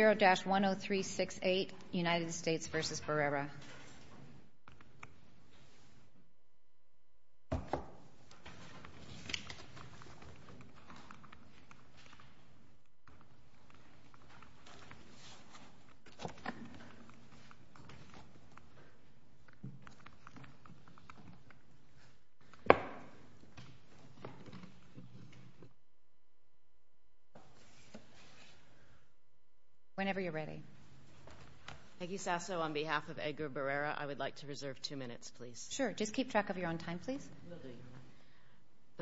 0-10368 United States v. Barrera The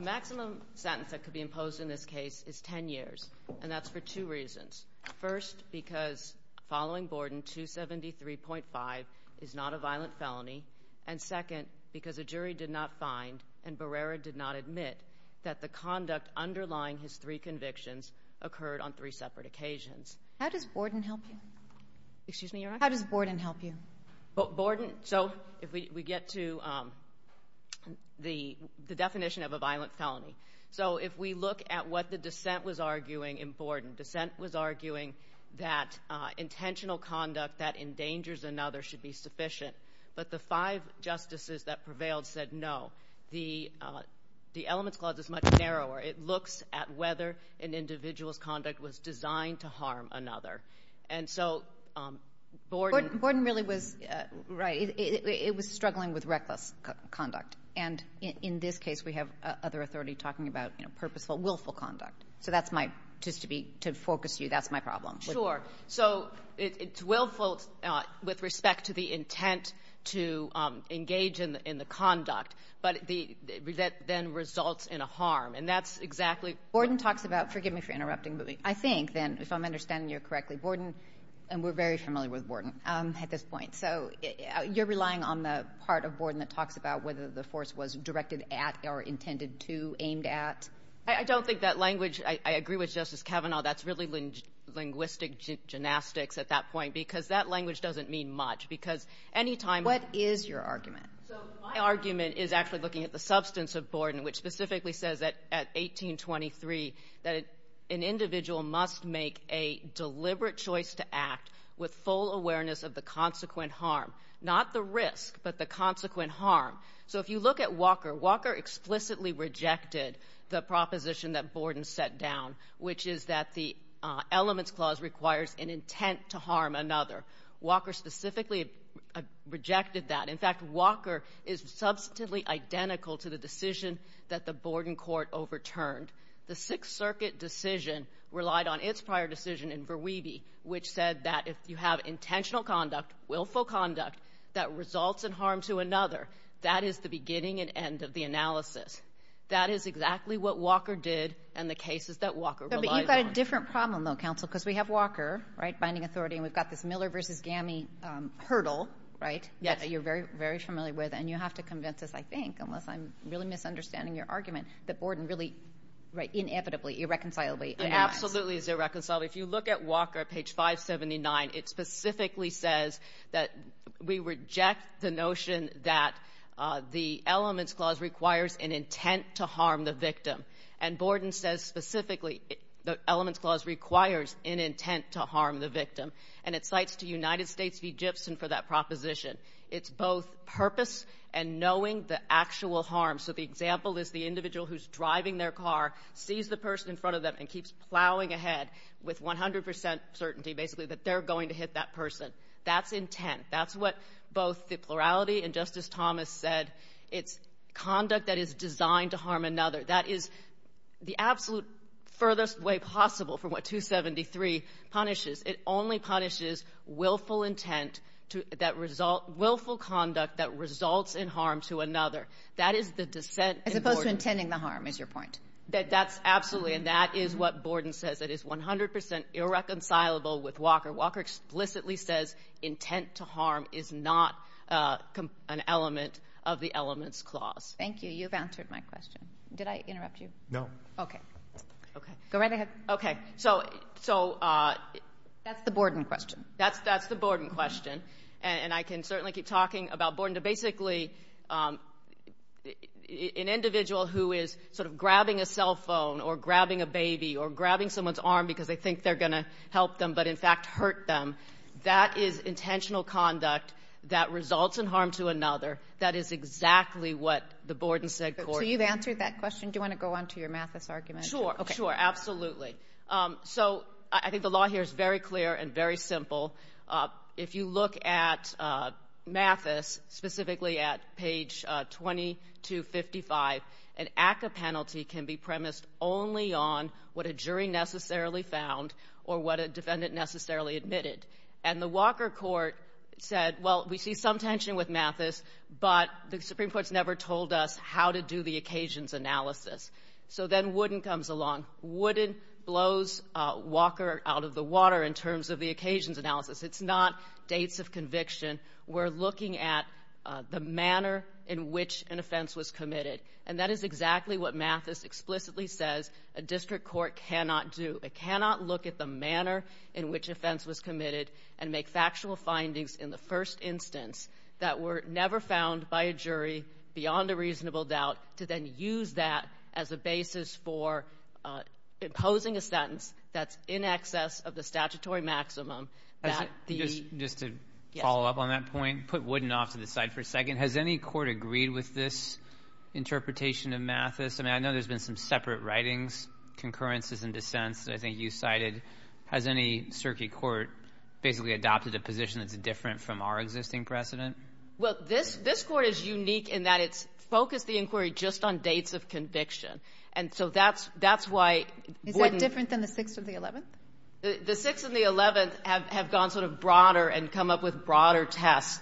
maximum sentence that could be imposed in this case is 10 years, and that's for two reasons. First, because following Borden, 273.5 is not a violent felony, and second, because a jury did not find and Barrera did not admit that the conduct underlying his three convictions occurred on three separate occasions. How does Borden help you? Borden, so if we get to the definition of a violent felony, so if we look at what the dissent was arguing in Borden, dissent was arguing that intentional conduct that endangers another should be sufficient, but the five justices that prevailed said no. The elements of this clause is much narrower. It looks at whether an individual's conduct was designed to harm another. And so Borden — Borden really was — right, it was struggling with reckless conduct. And in this case, we have other authority talking about, you know, purposeful, willful conduct. So that's my — just to be — to focus you, that's my problem. Sure. So it's willful with respect to the intent to engage in the conduct, but the — that then results in a harm. And that's exactly — Borden talks about — forgive me for interrupting, but I think, then, if I'm understanding you correctly, Borden — and we're very familiar with Borden at this point. So you're relying on the part of Borden that talks about whether the force was directed at or intended to, aimed at? I don't think that language — I agree with Justice Kavanaugh. That's really linguistic gymnastics at that point, because that language doesn't mean much, because any time — What is your argument? So my argument is actually looking at the substance of Borden, which specifically says that, at 1823, that an individual must make a deliberate choice to act with full awareness of the consequent harm. Not the risk, but the consequent harm. So if you look at Walker, Walker explicitly rejected the proposition that Borden set down, which is that the Elements Clause requires an intent to harm another. Walker specifically rejected that. In fact, Walker is substantively identical to the decision that the Borden court overturned. The Sixth Circuit decision relied on its prior decision in Verweeby, which said that if you have intentional conduct, willful conduct, that results in harm to another, that is the beginning and end of the analysis. That is exactly what Walker did and the cases that Walker relied on. But you've got a different problem, though, counsel, because we have Walker, right, and we've got this Miller v. Gammey hurdle, right, that you're very, very familiar with. And you have to convince us, I think, unless I'm really misunderstanding your argument, that Borden really, right, inevitably, irreconcilably — Absolutely is irreconcilable. If you look at Walker at page 579, it specifically says that we reject the notion that the Elements Clause requires an intent to harm the victim. And Borden says specifically the Elements Clause requires an intent to harm the victim. And it cites to United States v. Gibson for that proposition. It's both purpose and knowing the actual harm. So the example is the individual who's driving their car, sees the person in front of them, and keeps plowing ahead with 100 percent certainty, basically, that they're going to hit that person. That's intent. That's what both the plurality and Justice Thomas said. It's conduct that is designed to harm another. That is the absolute furthest way possible from what 273 punishes. It only punishes willful intent that result — willful conduct that results in harm to another. That is the dissent in Borden. As opposed to intending the harm, is your point? That's absolutely. And that is what Borden says. It is 100 percent irreconcilable with Walker. Walker explicitly says intent to harm is not an element of the Elements Clause. Thank you. You've answered my question. Did I interrupt you? No. Okay. Okay. Go right ahead. Okay. So — so — That's the Borden question. That's — that's the Borden question. And I can certainly keep talking about Borden. But basically, an individual who is sort of grabbing a cell phone or grabbing a baby or grabbing someone's arm because they think they're going to help them but, in fact, hurt them, that is intentional conduct that results in harm to another. That is exactly what the Borden said, Court. So you've answered that question. Do you want to go on to your Mathis argument? Sure. Okay. Sure. Absolutely. So I think the law here is very clear and very simple. If you look at Mathis, specifically at page 2255, an ACCA penalty can be premised only on what a jury necessarily found or what a defendant necessarily admitted. So then Wooden comes along. Wooden blows Walker out of the water in terms of the occasions analysis. It's not dates of conviction. We're looking at the manner in which an offense was committed. And that is exactly what Mathis explicitly says a district court cannot do. It cannot look at the manner in which an offense was committed and make factual findings in the first instance that were never found by a jury beyond a reasonable doubt to then use that as a basis for imposing a sentence that's in excess of the statutory maximum. Just to follow up on that point, put Wooden off to the side for a second. Has any court agreed with this interpretation of Mathis? I mean, I know there's been some separate writings, concurrences and dissents that I think you cited. Has any circuit court basically adopted a position that's different from our existing precedent? Well, this court is unique in that it's focused the inquiry just on dates of conviction. And so that's why Wooden Is that different than the Sixth and the Eleventh? The Sixth and the Eleventh have gone sort of broader and come up with broader tests,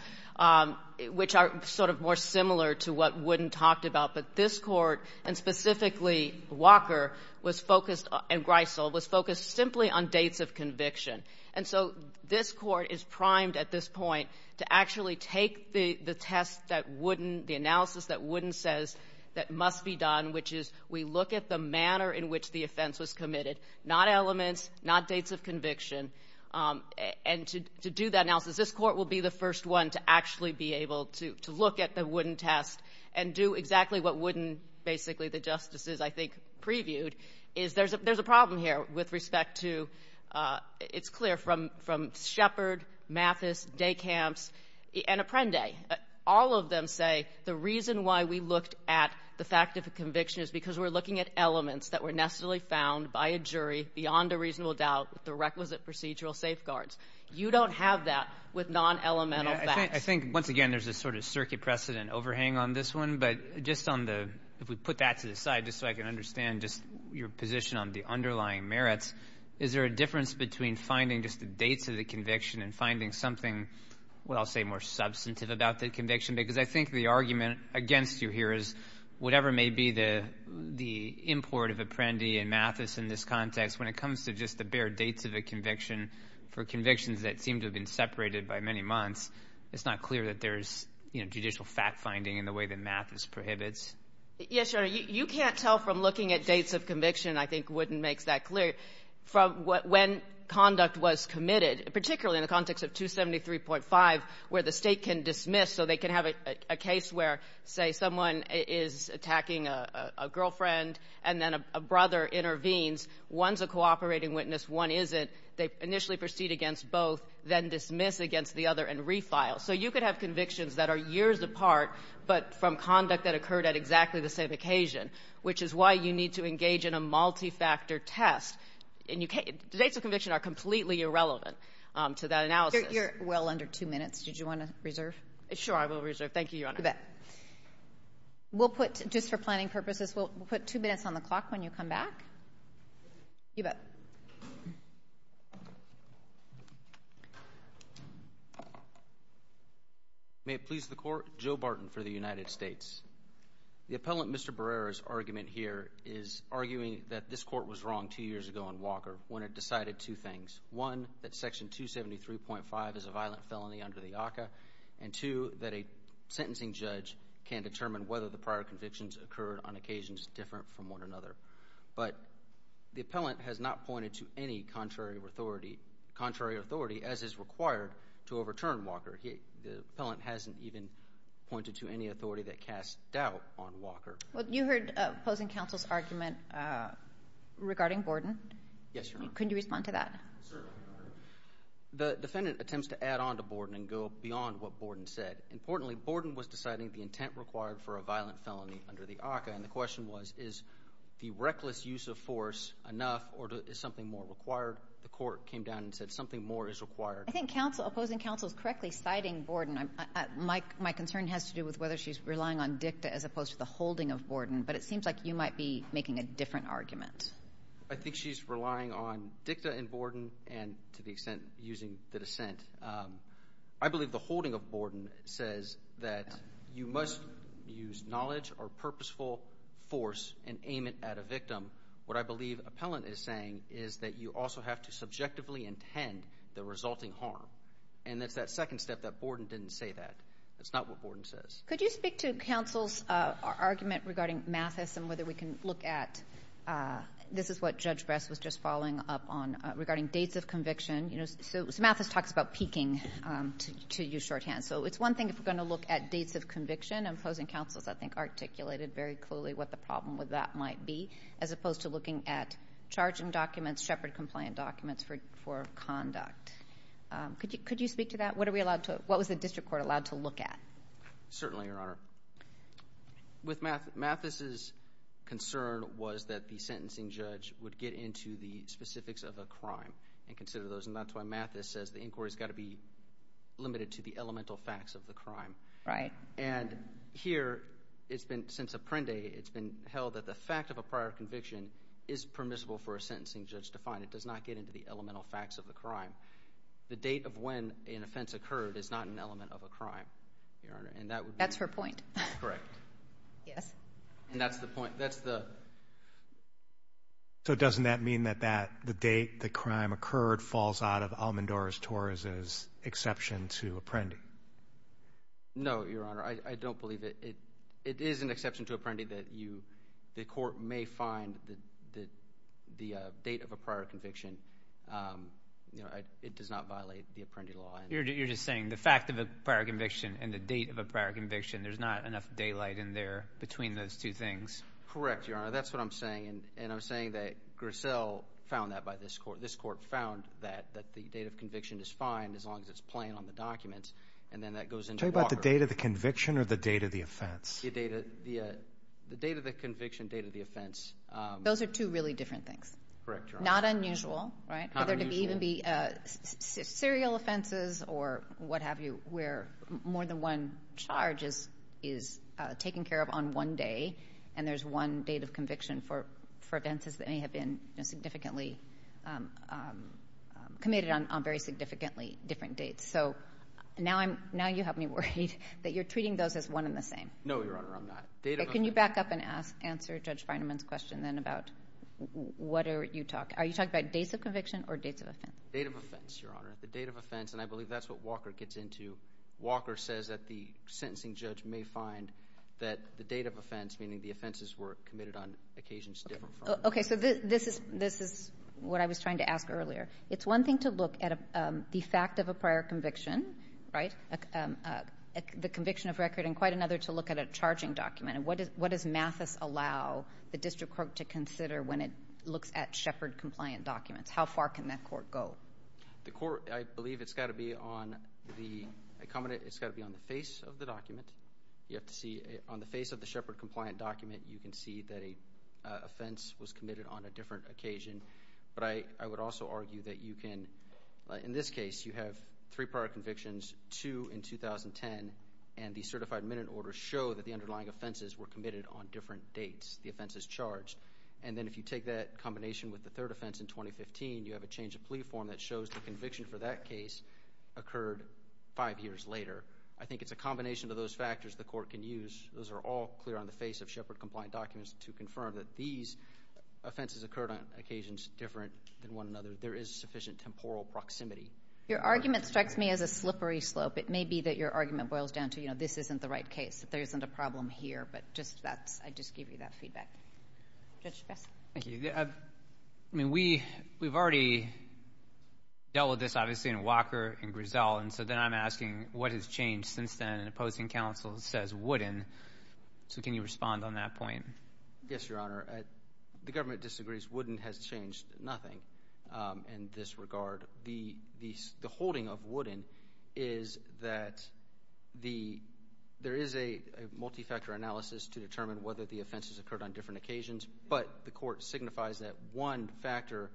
which are sort of more similar to what Wooden talked about. But this court, and specifically Walker, was focused, and Greisel, was focused simply on dates of conviction. And so this court is primed at this point to actually take the test that Wooden, the analysis that Wooden says that must be done, which is we look at the manner in which the offense was committed, not elements, not dates of conviction, and to do that analysis. This court will be the first one to actually be able to look at the Wooden test and do exactly what Wooden, basically the justices, I think, previewed. There's a problem here with respect to, it's clear, from Shepard, Mathis, Dekamps, and Apprende. All of them say the reason why we looked at the fact of a conviction is because we're looking at elements that were necessarily found by a jury beyond a reasonable doubt with the requisite procedural safeguards. You don't have that with non-elemental facts. I think, once again, there's a sort of circuit precedent overhang on this one. But just on the, if we put that to the side, just so I can understand just your position on the underlying merits. Is there a difference between finding just the dates of the conviction and finding something, what I'll say, more substantive about the conviction? Because I think the argument against you here is, whatever may be the import of Apprende and Mathis in this context, when it comes to just the bare dates of a conviction for convictions that seem to have been separated by many months, it's not clear that there's judicial fact-finding in the way that Mathis prohibits. Yes, Your Honor. You can't tell from looking at dates of conviction, I think Wooden makes that clear, from when conduct was committed, particularly in the context of 273.5, where the State can dismiss. So they can have a case where, say, someone is attacking a girlfriend, and then a brother intervenes. One's a cooperating witness, one isn't. They initially proceed against both, then dismiss against the other and refile. So you could have convictions that are years apart, but from conduct that occurred at exactly the same occasion, which is why you need to engage in a multi-factor test. And you can't, the dates of conviction are completely irrelevant to that analysis. You're well under two minutes. Did you want to reserve? Sure, I will reserve. Thank you, Your Honor. You bet. We'll put, just for planning purposes, we'll put two minutes on the clock when you come back. You bet. May it please the Court, Joe Barton for the United States. The appellant, Mr. Barrera's argument here is arguing that this court was wrong two years ago in Walker when it decided two things. One, that Section 273.5 is a violent felony under the ACCA, and two, that a sentencing judge can determine whether the prior convictions occurred on occasions different from one another. But the appellant has not pointed to any contrary authority, as is required, to overturn Walker. The appellant hasn't even pointed to any authority that casts doubt on Walker. Well, you heard opposing counsel's argument regarding Borden. Yes, Your Honor. Can you respond to that? Certainly, Your Honor. The defendant attempts to add on to Borden and go beyond what Borden said. Importantly, Borden was deciding the intent required for a violent felony under the ACCA. And the question was, is the reckless use of force enough, or is something more required? The court came down and said, something more is required. I think opposing counsel is correctly citing Borden. My concern has to do with whether she's relying on dicta as opposed to the holding of Borden. But it seems like you might be making a different argument. I think she's relying on dicta in Borden and, to the extent, using the dissent. I believe the holding of Borden says that you must use knowledge or purposeful force and aim it at a victim. What I believe Appellant is saying is that you also have to subjectively intend the resulting harm. And it's that second step that Borden didn't say that. That's not what Borden says. Could you speak to counsel's argument regarding Mathis and whether we can look at, this is what Judge Bress was just following up on, regarding dates of conviction. You know, so Mathis talks about peaking to you shorthand. So it's one thing if we're going to look at dates of conviction. And opposing counsel, I think, articulated very clearly what the problem with that might be. As opposed to looking at charging documents, Shepherd-compliant documents for conduct. Could you speak to that? What are we allowed to, what was the district court allowed to look at? Certainly, Your Honor. With Mathis's concern was that the sentencing judge would get into the specifics of a crime and consider those. And that's why Mathis says the inquiry's got to be limited to the elemental facts of the crime. Right. And here, it's been, since Apprendi, it's been held that the fact of a prior conviction is permissible for a sentencing judge to find. It does not get into the elemental facts of the crime. The date of when an offense occurred is not an element of a crime, Your Honor. And that would be. That's her point. Correct. Yes. And that's the point. That's the. So doesn't that mean that that, the date the crime occurred, falls out of Almendora's-Torres's exception to Apprendi? No, Your Honor. I don't believe it. It is an exception to Apprendi that you, the court may find that the date of a prior conviction, you know, it does not violate the Apprendi law. You're just saying the fact of a prior conviction and the date of a prior conviction, there's not enough daylight in there between those two things. Correct, Your Honor. That's what I'm saying. And I'm saying that Grissel found that by this court. This court found that, that the date of conviction is fine as long as it's plain on the documents. And then that goes into Walker. Tell me about the date of the conviction or the date of the offense. The date of the conviction, date of the offense. Those are two really different things. Correct, Your Honor. Not unusual, right? Not unusual. Whether it even be serial offenses or what have you, where more than one charge is taken care of on one day. And there's one date of conviction for offenses that may have been significantly committed on very significantly different dates. So now you have me worried that you're treating those as one and the same. No, Your Honor, I'm not. Can you back up and answer Judge Feinemann's question then about what are you talking about? Are you talking about dates of conviction or dates of offense? Date of offense, Your Honor. The date of offense. And I believe that's what Walker gets into. Walker says that the sentencing judge may find that the date of offense, meaning the offenses were committed on occasions different from. Okay, so this is what I was trying to ask earlier. It's one thing to look at the fact of a prior conviction, right? The conviction of record, and quite another to look at a charging document. And what does Mathis allow the district court to consider when it looks at Shepard-compliant documents? How far can that court go? The court, I believe it's got to be on the face of the document. You have to see on the face of the Shepard-compliant document, you can see that an offense was committed on a different occasion. But I would also argue that you can, in this case, you have three prior convictions, two in 2010, and the certified minute order show that the underlying offenses were committed on different dates. The offense is charged. And then if you take that combination with the third offense in 2015, you have a change of plea form that shows the conviction for that case occurred five years later. I think it's a combination of those factors the court can use. Those are all clear on the face of Shepard-compliant documents to confirm that these offenses occurred on occasions different than one another. There is sufficient temporal proximity. Your argument strikes me as a slippery slope. It may be that your argument boils down to, you know, this isn't the right case, that there isn't a problem here. But just that's, I just give you that feedback. Judge Spess. Thank you. I mean, we've already dealt with this, obviously, in Walker and Grisel. And so then I'm asking, what has changed since then? The opposing counsel says, wouldn't. So can you respond on that point? Yes, Your Honor. The government disagrees. Wouldn't has changed nothing in this regard. The holding of wouldn't is that there is a multi-factor analysis to determine whether the offenses occurred on different occasions. But the court signifies that one factor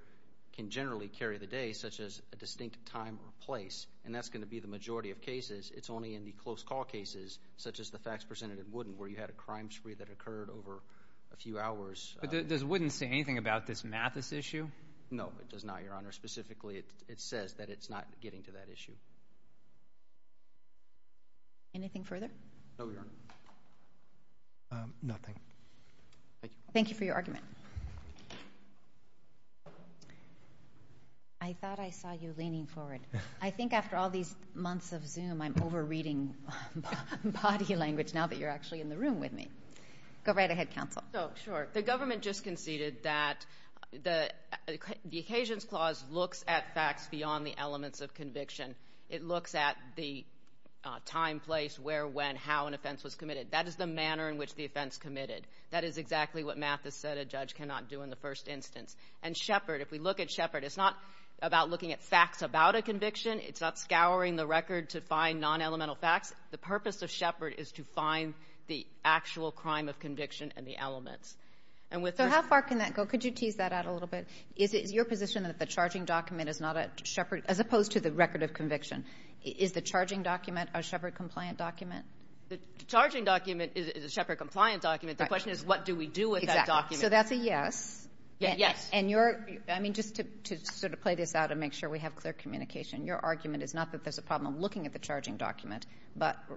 can generally carry the day, such as a distinct time or place. And that's going to be the majority of cases. It's only in the close call cases, such as the facts presented in wouldn't, where you had a crime spree that occurred over a few hours. But does wouldn't say anything about this Mathis issue? No, it does not, Your Honor. Specifically, it says that it's not getting to that issue. Anything further? No, Your Honor. Nothing. Thank you. Thank you for your argument. I thought I saw you leaning forward. I think after all these months of Zoom, I'm over-reading body language now that you're actually in the room with me. Go right ahead, counsel. Sure. The government just conceded that the Occasions Clause looks at facts beyond the elements of conviction. It looks at the time, place, where, when, how an offense was committed. That is the manner in which the offense committed. That is exactly what Mathis said a judge cannot do in the first instance. And Shepard, if we look at Shepard, it's not about looking at facts about a conviction. It's not scouring the record to find non-elemental facts. The purpose of Shepard is to find the actual crime of conviction and the elements. So how far can that go? Could you tease that out a little bit? Is it your position that the charging document is not at Shepard as opposed to the record of conviction? Is the charging document a Shepard-compliant document? The charging document is a Shepard-compliant document. The question is what do we do with that document? Exactly. So that's a yes. Yes. And you're, I mean, just to sort of play this out and make sure we have clear communication, your argument is not that there's a problem looking at the charging document.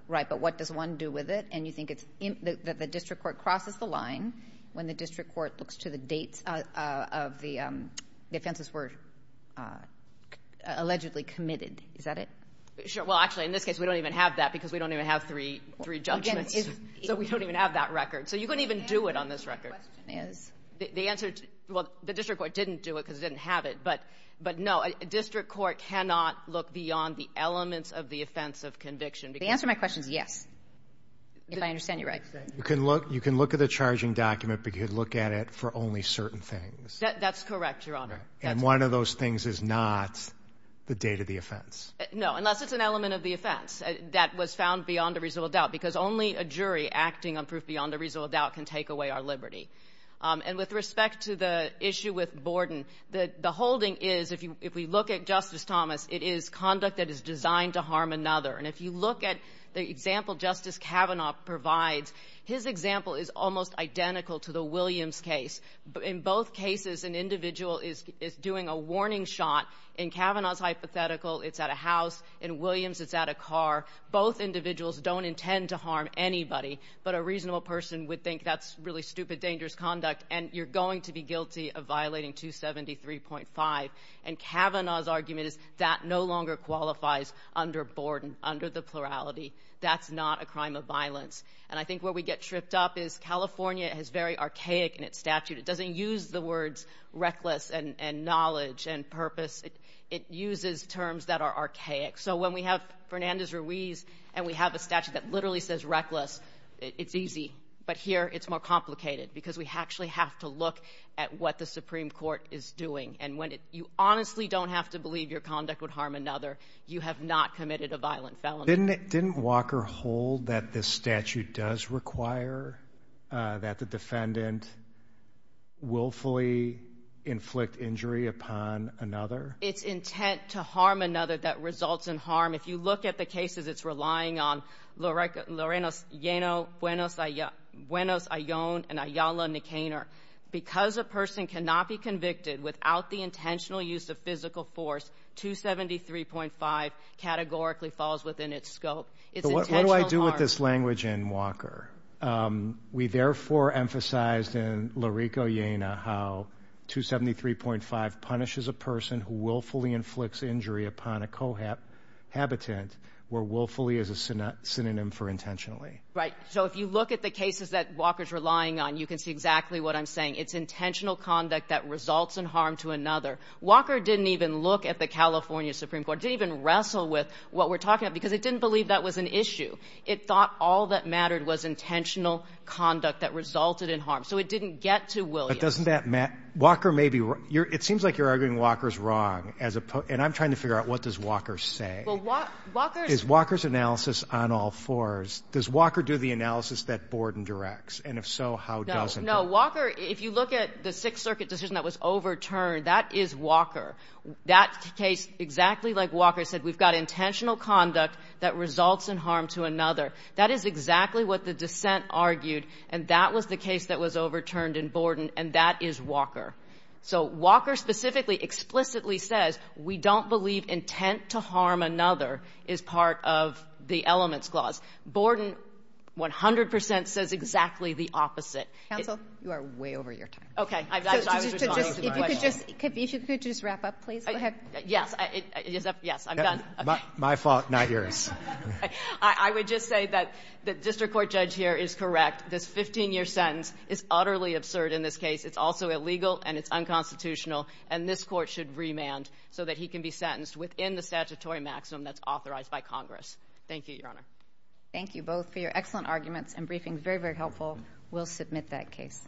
Right. But what does one do with it? And you think that the district court crosses the line when the district court looks to the dates of the offenses were allegedly committed. Is that it? Well, actually, in this case, we don't even have that because we don't even have three judgments. So we don't even have that record. So you couldn't even do it on this record. The question is? The answer, well, the district court didn't do it because it didn't have it. But no, a district court cannot look beyond the elements of the offense of conviction. The answer to my question is yes. If I understand you right. You can look at the charging document, but you can look at it for only certain things. That's correct, Your Honor. And one of those things is not the date of the offense. No, unless it's an element of the offense that was found beyond a reasonable doubt because only a jury acting on proof beyond a reasonable doubt can take away our liberty. And with respect to the issue with Borden, the holding is, if we look at Justice Thomas, it is conduct that is designed to harm another. And if you look at the example Justice Kavanaugh provides, his example is almost identical to the Williams case. In both cases, an individual is doing a warning shot. In Kavanaugh's hypothetical, it's at a house. In Williams, it's at a car. Both individuals don't intend to harm anybody, but a reasonable person would think that's really stupid, dangerous conduct and you're going to be guilty of violating 273.5. And Kavanaugh's argument is that no longer qualifies under Borden, under the plurality. That's not a crime of violence. And I think where we get tripped up is California is very archaic in its statute. It doesn't use the words reckless and knowledge and purpose. It uses terms that are archaic. So when we have Fernandez Ruiz and we have a statute that literally says reckless, it's easy. But here, it's more complicated because we actually have to look at what the Supreme Court is doing. And when you honestly don't have to believe your conduct would harm another, you have not committed a violent felony. Didn't Walker hold that this statute does require that the defendant willfully inflict injury upon another? It's intent to harm another that results in harm. If you look at the cases, it's relying on Lorena Llano, Buenos Ion, and Ayala Nicanor. Because a person cannot be convicted without the intentional use of physical force, 273.5 categorically falls within its scope. What do I do with this language in Walker? We therefore emphasized in Lorena Llano how 273.5 punishes a person who willfully inflicts injury upon a cohabitant where willfully is a synonym for intentionally. Right. So if you look at the cases that Walker's relying on, you can see exactly what I'm saying. It's intentional conduct that results in harm to another. Walker didn't even look at the California Supreme Court, didn't even wrestle with what we're talking about because it didn't believe that was an issue. It thought all that mattered was intentional conduct that resulted in harm. So it didn't get to Williams. It seems like you're arguing Walker's wrong. And I'm trying to figure out what does Walker say? Is Walker's analysis on all fours? Does Walker do the analysis that Borden directs? No. Walker, if you look at the Sixth Circuit decision that was overturned, that is Walker. That case, exactly like Walker said, we've got intentional conduct that results in harm to another. That is exactly what the dissent argued, and that was the case that was overturned in Borden, and that is Walker. So Walker specifically explicitly says we don't believe intent to harm another is part of the Elements Clause. Borden 100% says exactly the opposite. Counsel, you are way over your time. Okay. If you could just wrap up, please. Yes. Yes, I'm done. My fault, not yours. I would just say that the District Court judge here is correct. This 15-year sentence is utterly absurd in this case. It's also illegal, and it's unconstitutional. And this Court should remand so that he can be sentenced within the statutory maximum that's authorized by Congress. Thank you, Your Honor. Thank you both for your excellent arguments and briefings. Very, very helpful. We'll submit that case.